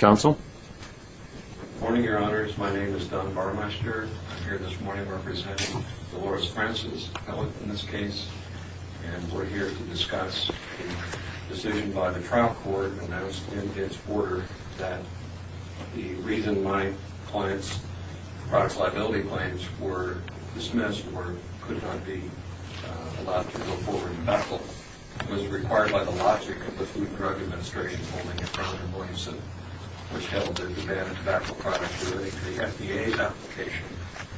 Good morning, Your Honors. My name is Don Barmeister. I'm here this morning representing Dolores Francis, a felon in this case, and we're here to discuss a decision by the trial court that announced in its order that the reason my client's products liability claims were dismissed or could not be allowed to go forward in tobacco was required by the logic of the Food and Drug Administration holding in front of Williamson, which held the demand of tobacco products related to the FDA's application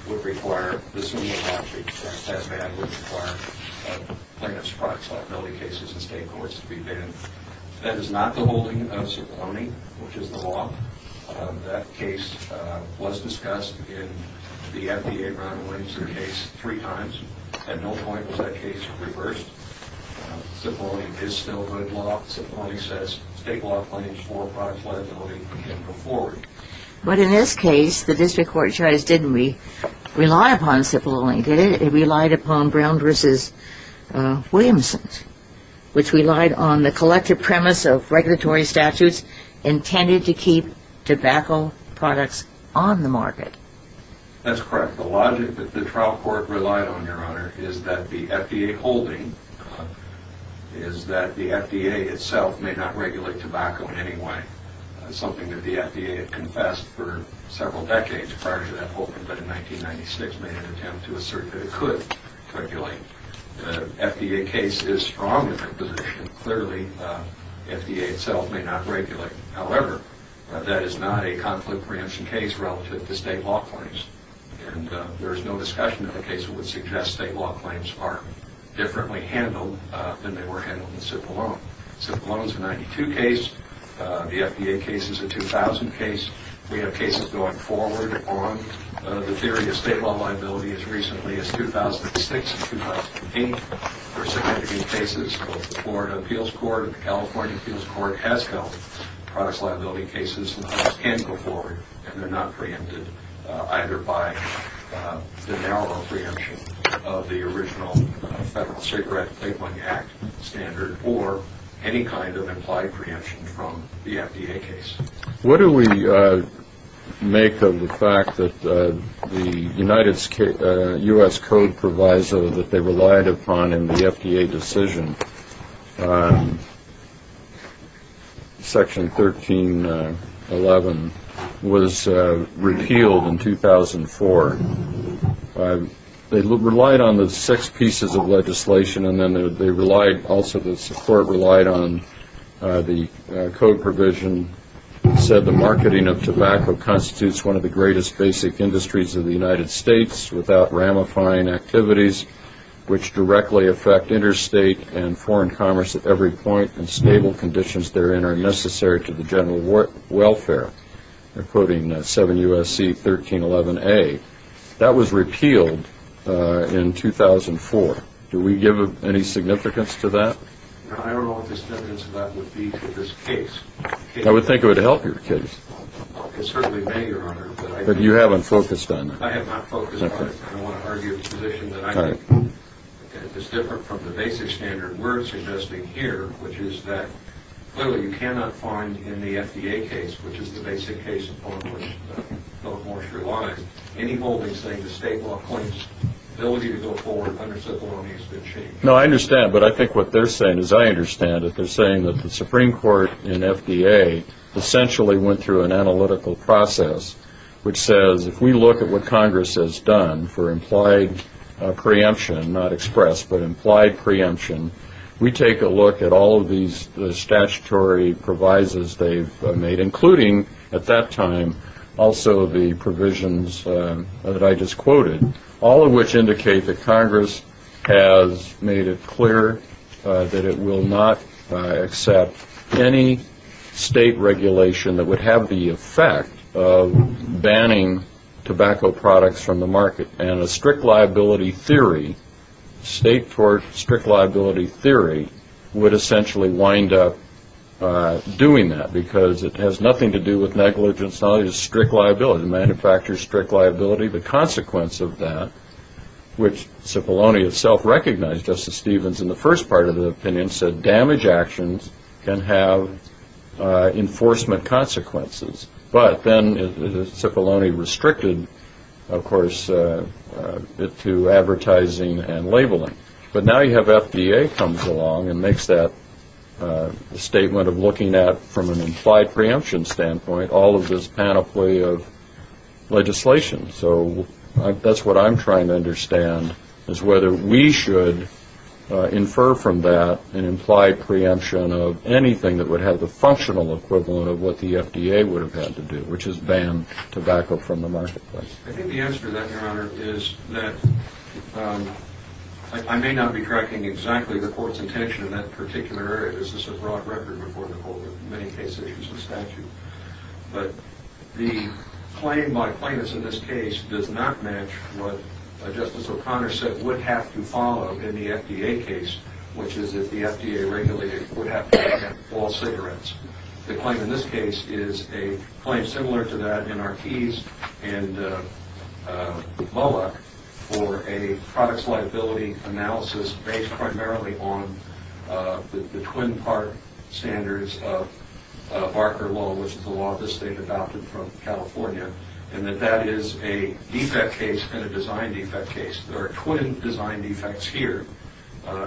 would require the similar logic that that ban would require plaintiff's products liability cases in state courts to go forward. That's not the holding of Cipollone, which is the law that case was discussed in the FDA round of Williamson case three times. At no point was that case reversed. Cipollone is still good law. Cipollone says state law claims for product liability can go forward. But in this case the district court chose, didn't we, rely upon Cipollone, did it? It relied on the collective premise of regulatory statutes intended to keep tobacco products on the market. That's correct. The logic that the trial court relied on, Your Honor, is that the FDA holding is that the FDA itself may not regulate tobacco in any way, something that the FDA had confessed for several decades prior to that holding, but in 1996 made an attempt to assert that it could regulate. The FDA case is strong in that position. Clearly, the FDA itself may not regulate. However, that is not a conflict preemption case relative to state law claims. And there is no discussion of a case that would suggest state law claims are differently handled than they were handled in Cipollone. Cipollone is a 92 case. The FDA case is a 2,000 case. We have cases going forward on the theory of state law liability as recently as 2006 and 2008. There are significant cases both the Florida Appeals Court and the California Appeals Court has held. Products liability cases can go forward, and they're not preempted, either by the narrow preemption of the original Federal Cigarette and Playboy Act standard or any kind of implied preemption from the FDA case. What do we make of the fact that the United States U.S. Code Proviso that they relied upon in the FDA decision, Section 1311, was repealed in 2004? They relied on the six pieces of legislation, and then they relied also the support relied on the code provision said the marketing of tobacco constitutes one of the greatest basic industries of the United States without ramifying activities which directly affect interstate and foreign commerce at every point, and stable conditions therein are necessary to the general welfare. They're not preempted. Do we give any significance to that? I don't know what the significance of that would be to this case. I would think it would help your case. It certainly may, Your Honor. But you haven't focused on that. I have not focused on it. I don't want to argue a position that I think is different from the basic standard we're suggesting here, which is that clearly you cannot find in the FDA case, which is the basic case, a point where the court must rely on any holding, I think that's a good point. I think that's a good point. I think that's a good point. No, I understand, but I think what they're saying is I understand that they're saying that the Supreme Court and FDA essentially went through an analytical process which says if we look at what Congress has done for implied preemption, not express, but implied preemption, we take a look at all of these statutory provisos they've made, including at that time also the provisions that I just quoted, all of which indicate that Congress has made it clear that it will not accept any state regulation that would have the effect of banning tobacco products from the market, and a strict liability theory, state for strict liability theory, would essentially wind up doing that because it has nothing to do with negligence. It's all just strict liability, the manufacturer's strict liability. The consequence of that, which Cipollone itself recognized, Justice Stevens, in the first part of the opinion said damage actions can have enforcement consequences, but then Cipollone restricted, of course, to advertising and labeling. But now you have FDA comes along and makes that statement of looking at, from an implied preemption standpoint, all of this panoply of legislation. So that's what I'm trying to understand, is whether we should infer from that an implied preemption of anything that would have the functional equivalent of what the FDA would have had to do, which is ban tobacco from the marketplace. I think the answer to that, Your Honor, is that I may not be tracking exactly the Court's intention in that particular area. This is a broad record before the Court in many cases issues a statute. But the claim by plaintiffs in this case does not match what Justice O'Connor said would have to follow in the FDA case, which is that the FDA regulator would have to ban all cigarettes. The claim in this case is a claim similar to that in Artees and Bullock for a products liability analysis based primarily on the Twin Park standards of Barker Law, which is the law the State adopted from California, and that that is a defect case and a design defect case. There are twin design defects here,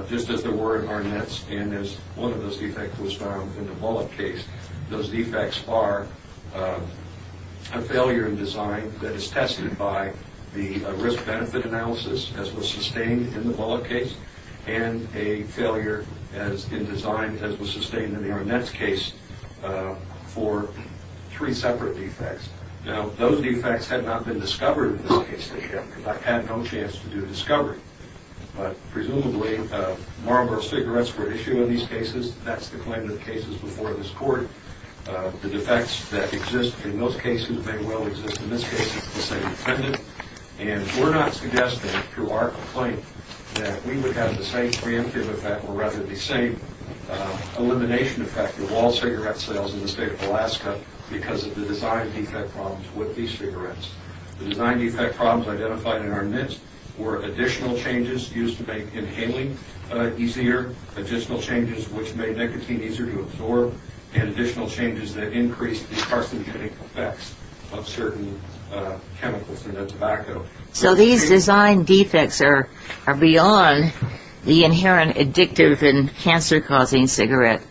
just as there were in Barnett's and as one of those defects was found in the Bullock case. Those defects are a failure in design that is tested by the risk-benefit analysis as was sustained in the Bullock case and a failure in design as was sustained in the Arnett's case for three separate defects. Now, those defects had not been discovered in this case because I had no chance to do discovery. But presumably, Marlboro cigarettes were issued in these cases. That's the claim in the cases before this Court. The defects that exist in those cases may well exist in this case. We're not suggesting through our complaint that we would have the same preemptive effect or rather the same elimination effect of all cigarette sales in the State of Alaska because of the design defect problems with these cigarettes. The design defect problems identified in Arnett's were additional changes used to make inhaling easier, additional changes which made nicotine easier to absorb, and additional changes that increased the carcinogenic effects of certain chemicals in the tobacco. So these design defects are beyond the inherent addictive and cancer-causing cigarette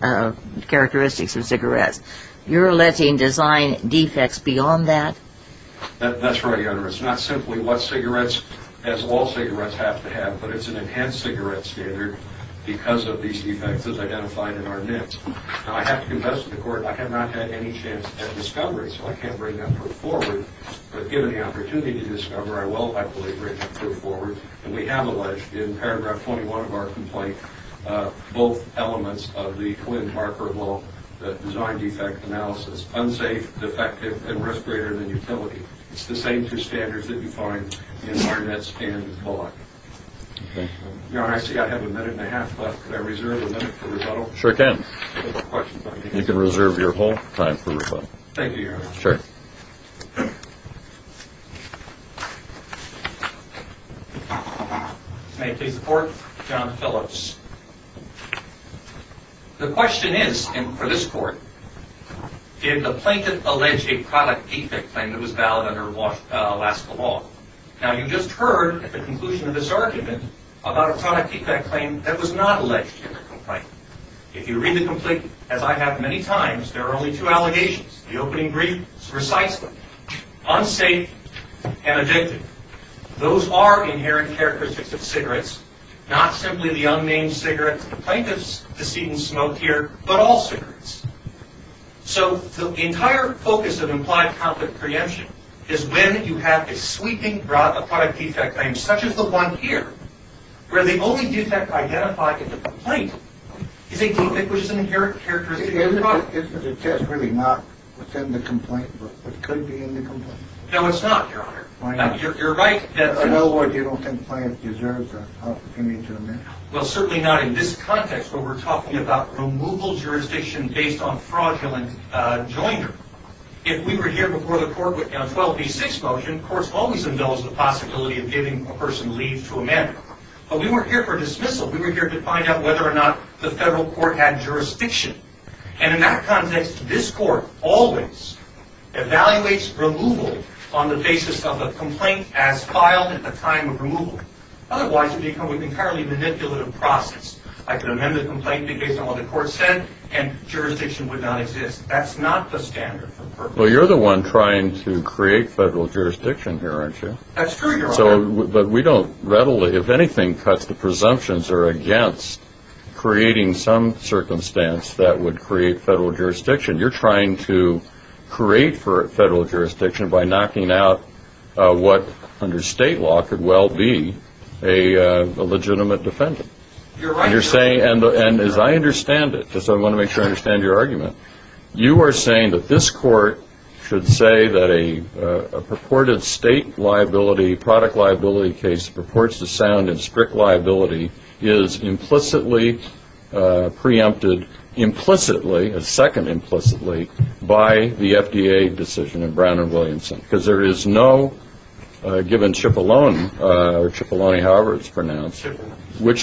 characteristics of cigarettes. You're alleging design defects beyond that? That's right, Your Honor. It's not simply what cigarettes, as all cigarettes have to have, but it's an enhanced cigarette standard because of these defects as identified in Arnett. Now, I have to confess to the Court I have not had any chance at discovery, so I can't bring that forward. But given the opportunity to discover, I will, I believe, bring that forward. And we have alleged in paragraph 21 of our complaint both elements of the Quinn-Marker law, the design defect analysis, unsafe, defective, and risk greater than utility. It's the same two standards that you find in Arnett's and Bullock. Your Honor, I see I have a minute and a half left. Could I reserve a minute for rebuttal? Sure you can. You can reserve your whole time for rebuttal. Thank you, Your Honor. Sure. May I please report? John Phillips. The question is, and for this Court, did the plaintiff allege a product defect claim that was valid under Alaska law? Now, you just heard at the conclusion of this argument about a product defect claim that was not alleged in the complaint. If you read the complaint, as I have many times, there are only two allegations. The opening brief is precisely unsafe and addictive. Those are inherent characteristics of cigarettes, not simply the unnamed cigarettes. The plaintiff's deceit and smoke here, but all cigarettes. So the entire focus of implied conflict preemption is when you have a sweeping product defect claim, such as the one here, where the only defect identified in the complaint is a defect which is an inherent characteristic of the product. Isn't the test really not what's in the complaint, but what could be in the complaint? No, it's not, Your Honor. Why not? You're right. In other words, you don't think the plaintiff deserves the opportunity to amend it? Well, certainly not in this context where we're talking about removal jurisdiction based on fraudulent joinder. If we were here before the Court with 12b6 motion, the Court's always indulged the possibility of giving a person leave to amend. But we weren't here for dismissal. We were here to find out whether or not the Federal Court had jurisdiction. And in that context, this Court always evaluates removal on the basis of a complaint as filed at the time of removal. Otherwise, it would become an entirely manipulative process. I could amend the complaint based on what the Court said, and jurisdiction would not exist. That's not the standard. Well, you're the one trying to create Federal jurisdiction here, aren't you? That's true, Your Honor. But we don't readily, if anything, touch the presumptions or against creating some circumstance that would create Federal jurisdiction. You're trying to create Federal jurisdiction by knocking out what, under state law, could well be a legitimate defendant. You're right. And as I understand it, because I want to make sure I understand your argument, you are saying that this Court should say that a purported state liability, product liability case that purports to sound in strict liability, is implicitly preempted, implicitly, a second implicitly, by the FDA decision in Brown v. Williamson. Because there is no, given Cipollone, or Cipollone, however it's pronounced, which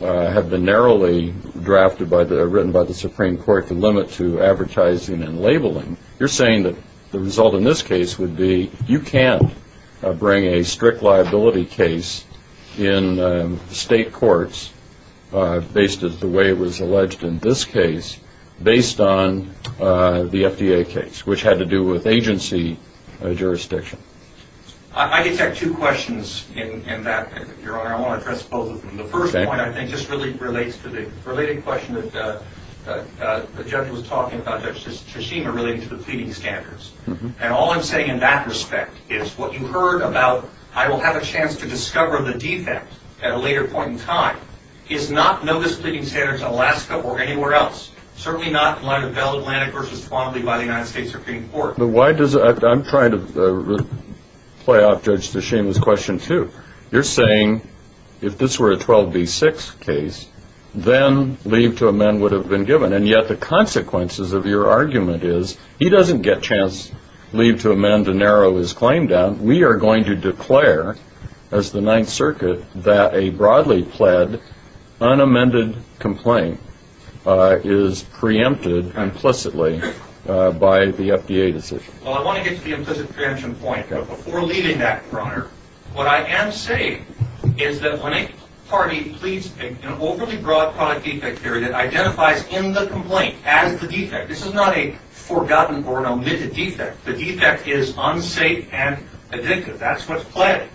have been narrowly drafted, written by the Supreme Court to limit to advertising and labeling, you're saying that the result in this case would be you can't bring a strict liability case in state courts, based as the way it was alleged in this case, based on the FDA case, which had to do with agency jurisdiction. I just have two questions in that, Your Honor. I want to address both of them. The first point, I think, just really relates to the related question that the judge was talking about, Judge Tshishima, relating to the pleading standards. And all I'm saying in that respect is what you heard about I will have a chance to discover the defect at a later point in time is not noticed pleading standards in Alaska or anywhere else. Certainly not in light of Bell Atlantic v. Twombly by the United States Supreme Court. I'm trying to play off Judge Tshishima's question, too. You're saying if this were a 12B6 case, then leave to amend would have been given. And yet the consequences of your argument is he doesn't get a chance to leave to amend and narrow his claim down. We are going to declare as the Ninth Circuit that a broadly pled unamended complaint is preempted implicitly by the FDA decision. Well, I want to get to the implicit preemption point. Before leaving that, Your Honor, what I am saying is that when a party pleads an overly broad product defect theory that identifies in the complaint as the defect, this is not a forgotten or omitted defect, the defect is unsafe and addictive. That's what's playing.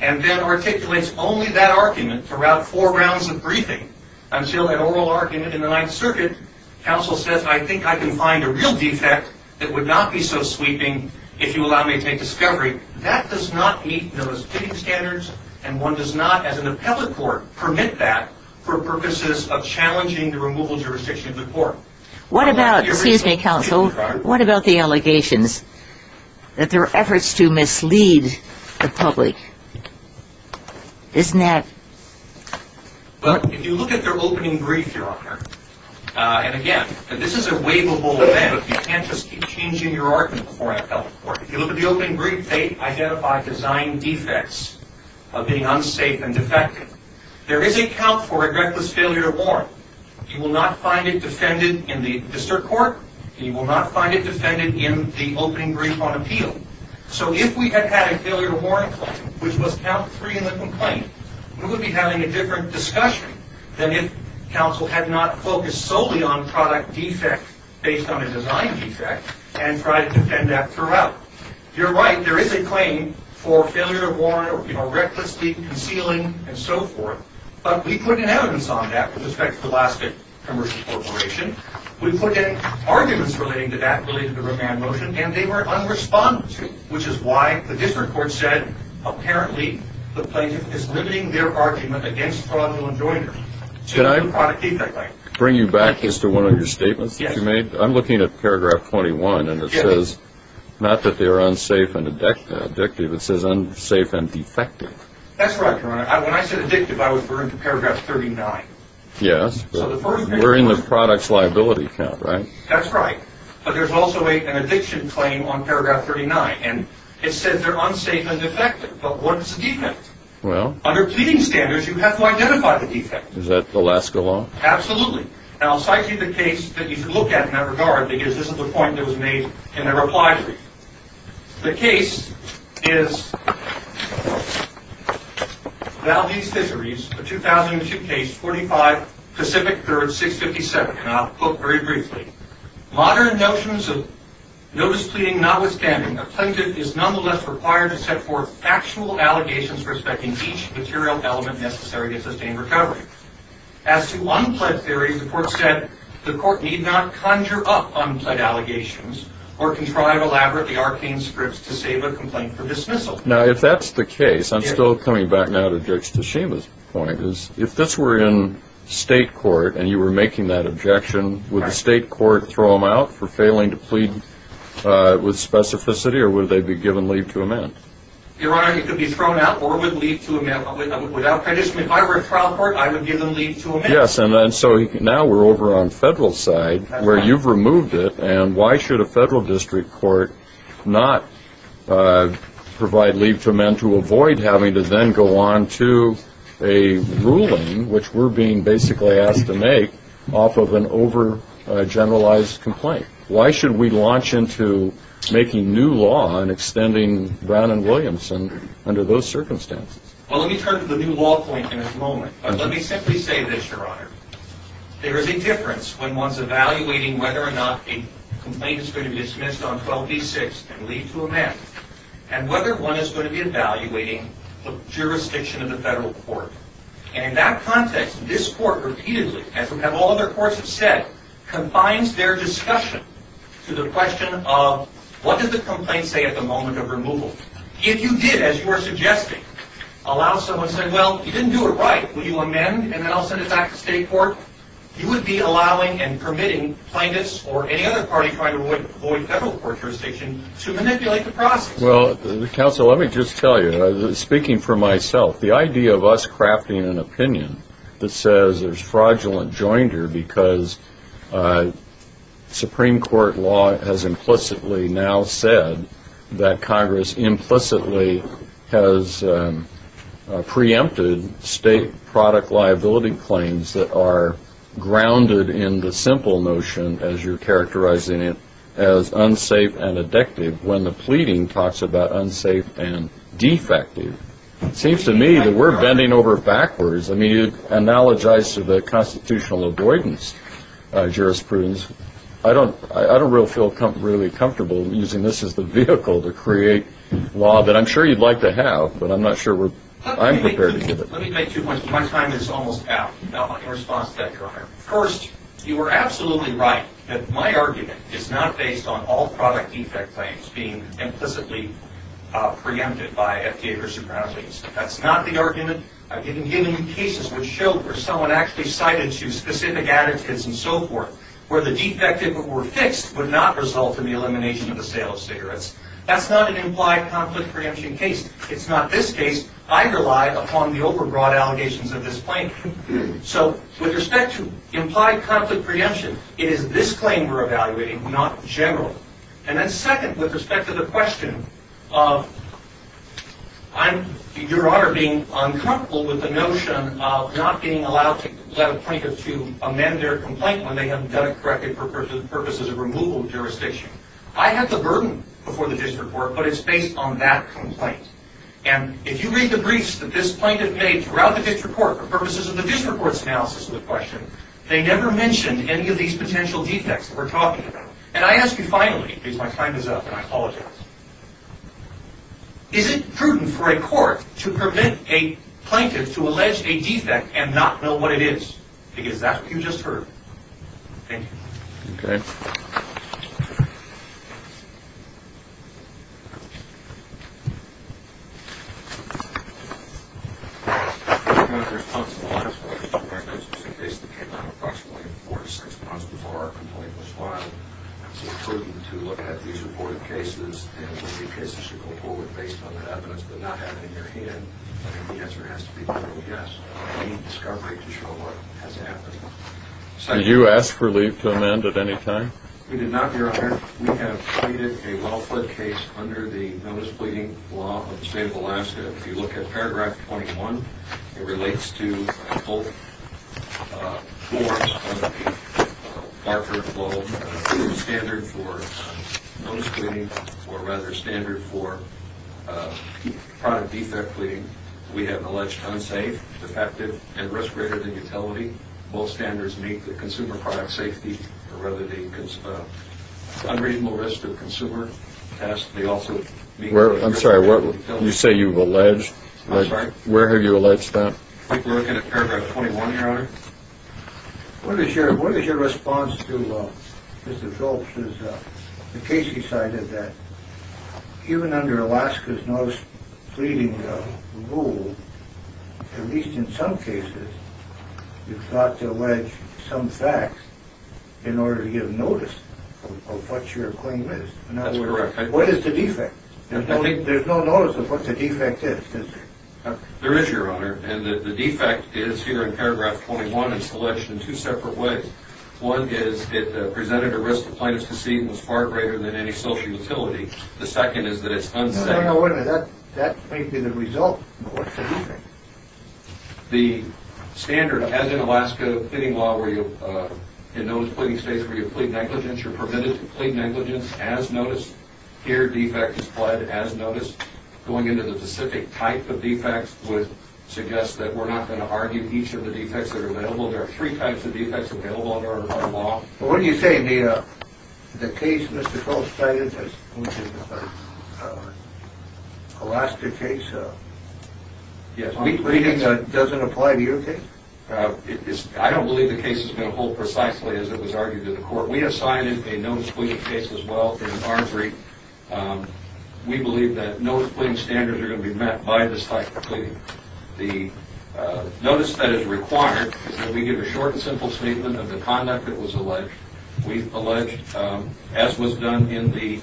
And then articulates only that argument throughout four rounds of briefing until that oral argument in the Ninth Circuit, counsel says, I think I can find a real defect that would not be so sweeping if you allow me to make discovery. That does not meet those fitting standards and one does not, as an appellate court, permit that for purposes of challenging the removal of jurisdiction of the court. What about, excuse me, counsel, what about the allegations that there are efforts to mislead the public? Isn't that... Well, if you look at their opening brief, Your Honor, and again, this is a waivable event, but you can't just keep changing your argument before an appellate court. If you look at the opening brief, they identify design defects of being unsafe and defective. There is a count for a reckless failure to warrant. You will not find it defended in the district court and you will not find it defended in the opening brief on appeal. So if we had had a failure to warrant claim, which was count three in the complaint, we would be having a different discussion than if counsel had not focused solely on product defect based on a design defect and tried to defend that throughout. You're right. There is a claim for failure to warrant or, you know, recklessly concealing and so forth, but we put an evidence on that with respect to the last commercial corporation. We put in arguments relating to that related to the remand motion, and they were unresponded to, which is why the district court said, apparently, the plaintiff is limiting their argument against fraudulent joinery. Should I bring you back to one of your statements that you made? Yes. I'm looking at paragraph 21, and it says, not that they are unsafe and addictive, it says unsafe and defective. That's right, Your Honor. When I said addictive, I was referring to paragraph 39. Yes. We're in the products liability count, right? That's right. But there's also an addiction claim on paragraph 39, and it says they're unsafe and defective. But what's a defect? Well... Under pleading standards, you have to identify the defect. Is that Alaska law? Absolutely. And I'll cite to you the case that you should look at in that regard, because this is the point that was made in the reply brief. The case is... Valdez Fisheries, a 2002 case, 45 Pacific 3rd, 657. And I'll quote very briefly. Modern notions of notice pleading notwithstanding, a plaintiff is nonetheless required to set forth factual allegations respecting each material element necessary to sustain recovery. As to unplead theories, the court said, the court need not conjure up unplead allegations or contrive elaborately arcane scripts to save a complaint for dismissal. Now, if that's the case, I'm still coming back now to Judge Tashima's point, is if this were in state court and you were making that objection, would the state court throw him out for failing to plead with specificity, or would they be given leave to amend? Your Honor, he could be thrown out or would leave to amend. Without prejudice, if I were a trial court, I would give him leave to amend. Yes, and so now we're over on federal side where you've removed it, and why should a federal district court not provide leave to amend to avoid having to then go on to a ruling which we're being basically asked to make off of an over-generalized complaint? Why should we launch into making new law and extending Brown and Williamson under those circumstances? Well, let me turn to the new law point in a moment. Let me simply say this, Your Honor. There is a difference when one's evaluating whether or not a complaint is going to be dismissed on 12b-6 and leave to amend, and whether one is going to be evaluating the jurisdiction of the federal court. And in that context, this court repeatedly, as all other courts have said, confines their discussion to the question of what does the complaint say at the moment of removal? If you did, as you are suggesting, allow someone to say, well, you didn't do it right. Will you amend, and then I'll send it back to state court? You would be allowing and permitting plaintiffs or any other party trying to avoid federal court jurisdiction to manipulate the process. Well, counsel, let me just tell you, speaking for myself, the idea of us crafting an opinion that says there's fraudulent joinder because Supreme Court law has implicitly now said that Congress implicitly has preempted state product liability claims that are grounded in the simple notion, as you're characterizing it, as unsafe and addictive when the pleading talks about unsafe and defective. It seems to me that we're bending over backwards. I mean, it analogizes to the constitutional avoidance jurisprudence. I don't really feel really comfortable using this as the vehicle to create law that I'm sure you'd like to have, but I'm not sure I'm prepared to give it. Let me make two points. My time is almost out. Now, my response to that, Your Honor. First, you are absolutely right that my argument is not based on all product defect claims being implicitly preempted by FDA versus Brownlees. That's not the argument. I've even given you cases which show where someone actually cited two specific attitudes and so forth where the defective were fixed would not result in the elimination of the sale of cigarettes. That's not an implied conflict preemption case. It's not this case. I rely upon the overbroad allegations of this plaintiff. So, with respect to implied conflict preemption, it is this claim we're evaluating, not the general. And then second, with respect to the question of Your Honor being uncomfortable with the notion of not being allowed to let a plaintiff to amend their complaint when they have done it for purposes of removal of jurisdiction, I have the burden before the district court, but it's based on that complaint. And if you read the briefs that this plaintiff made throughout the district court for purposes of the district court's analysis of the question, they never mentioned any of these potential defects that we're talking about. And I ask you finally, because my time is up and I apologize, is it prudent for a court to permit a plaintiff to allege a defect and not know what it is? Because that's what you just heard. Thank you. Okay. I'm not responsible. As far as I'm aware, this was a case that came out approximately four to six months before our complaint was filed. So it's prudent to look at these important cases and what cases should go forward based on that evidence but not have it in your hand. I think the answer has to be no, yes. We need discovery to show what has happened. Did you ask for leave to amend at any time? We did not, Your Honor. We have pleaded a well-fled case under the notice pleading law of the state of Alaska. If you look at paragraph 21, it relates to a whole course under the Hartford Law standard for notice pleading or rather standard for product defect pleading. We have alleged unsafe, defective, and risk greater than utility. Both standards meet the consumer product safety or rather the unreasonable risk to the consumer. It has to be also... I'm sorry, you say you've alleged? I'm sorry. Where have you alleged that? I think we're looking at paragraph 21, Your Honor. What is your response to Mr. Phillips' case? He cited that even under Alaska's notice pleading rule, at least in some cases, you've got to allege some facts in order to give notice of what your claim is. That's correct. What is the defect? There's no notice of what the defect is, is there? There is, Your Honor. And the defect is here in paragraph 21. It's alleged in two separate ways. One is it presented a risk of plaintiff's deceit and was far greater than any social utility. The second is that it's unsafe. No, no, no, wait a minute. That may be the result. What's the defect? The standard, as in Alaska fitting law, in notice pleading states where you plead negligence, you're permitted to plead negligence as noticed. Here, defect is pled as noticed. Going into the specific type of defects would suggest that we're not going to argue each of the defects that are available. There are three types of defects available under our law. Well, what do you say the case Mr. Phillips cited, which is an Alaska case, doesn't apply to your case? I don't believe the case is going to hold precisely as it was argued to the court. We have cited a notice pleading case as well in our brief. We believe that notice pleading standards are going to be met by this type of pleading. The notice that is required is that we give a short and simple statement of the conduct that was alleged. We've alleged, as was done in the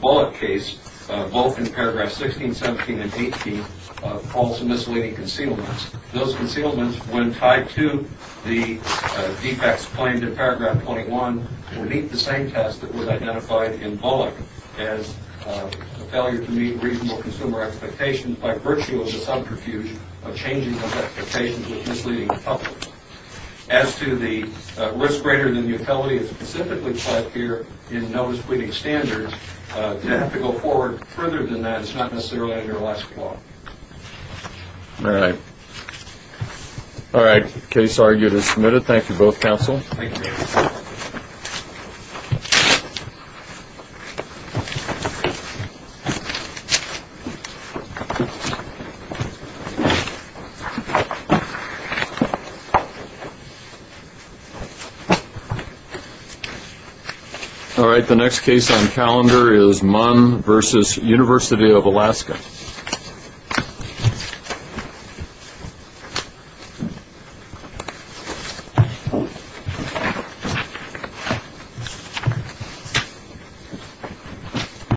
Bullock case, both in paragraph 16, 17, and 18, false and misleading concealments. Those concealments, when tied to the defects claimed in paragraph 21, would meet the same test that was identified in Bullock as a failure to meet reasonable consumer expectations by virtue of the subterfuge of changing those expectations of misleading the public. As to the risk greater than utility that is specifically pled here in notice pleading standards, to have to go forward further than that is not necessarily in your last quote. All right. All right. Case argued and submitted. Thank you both, counsel. Thank you. All right. The next case on calendar is Munn versus University of Alaska.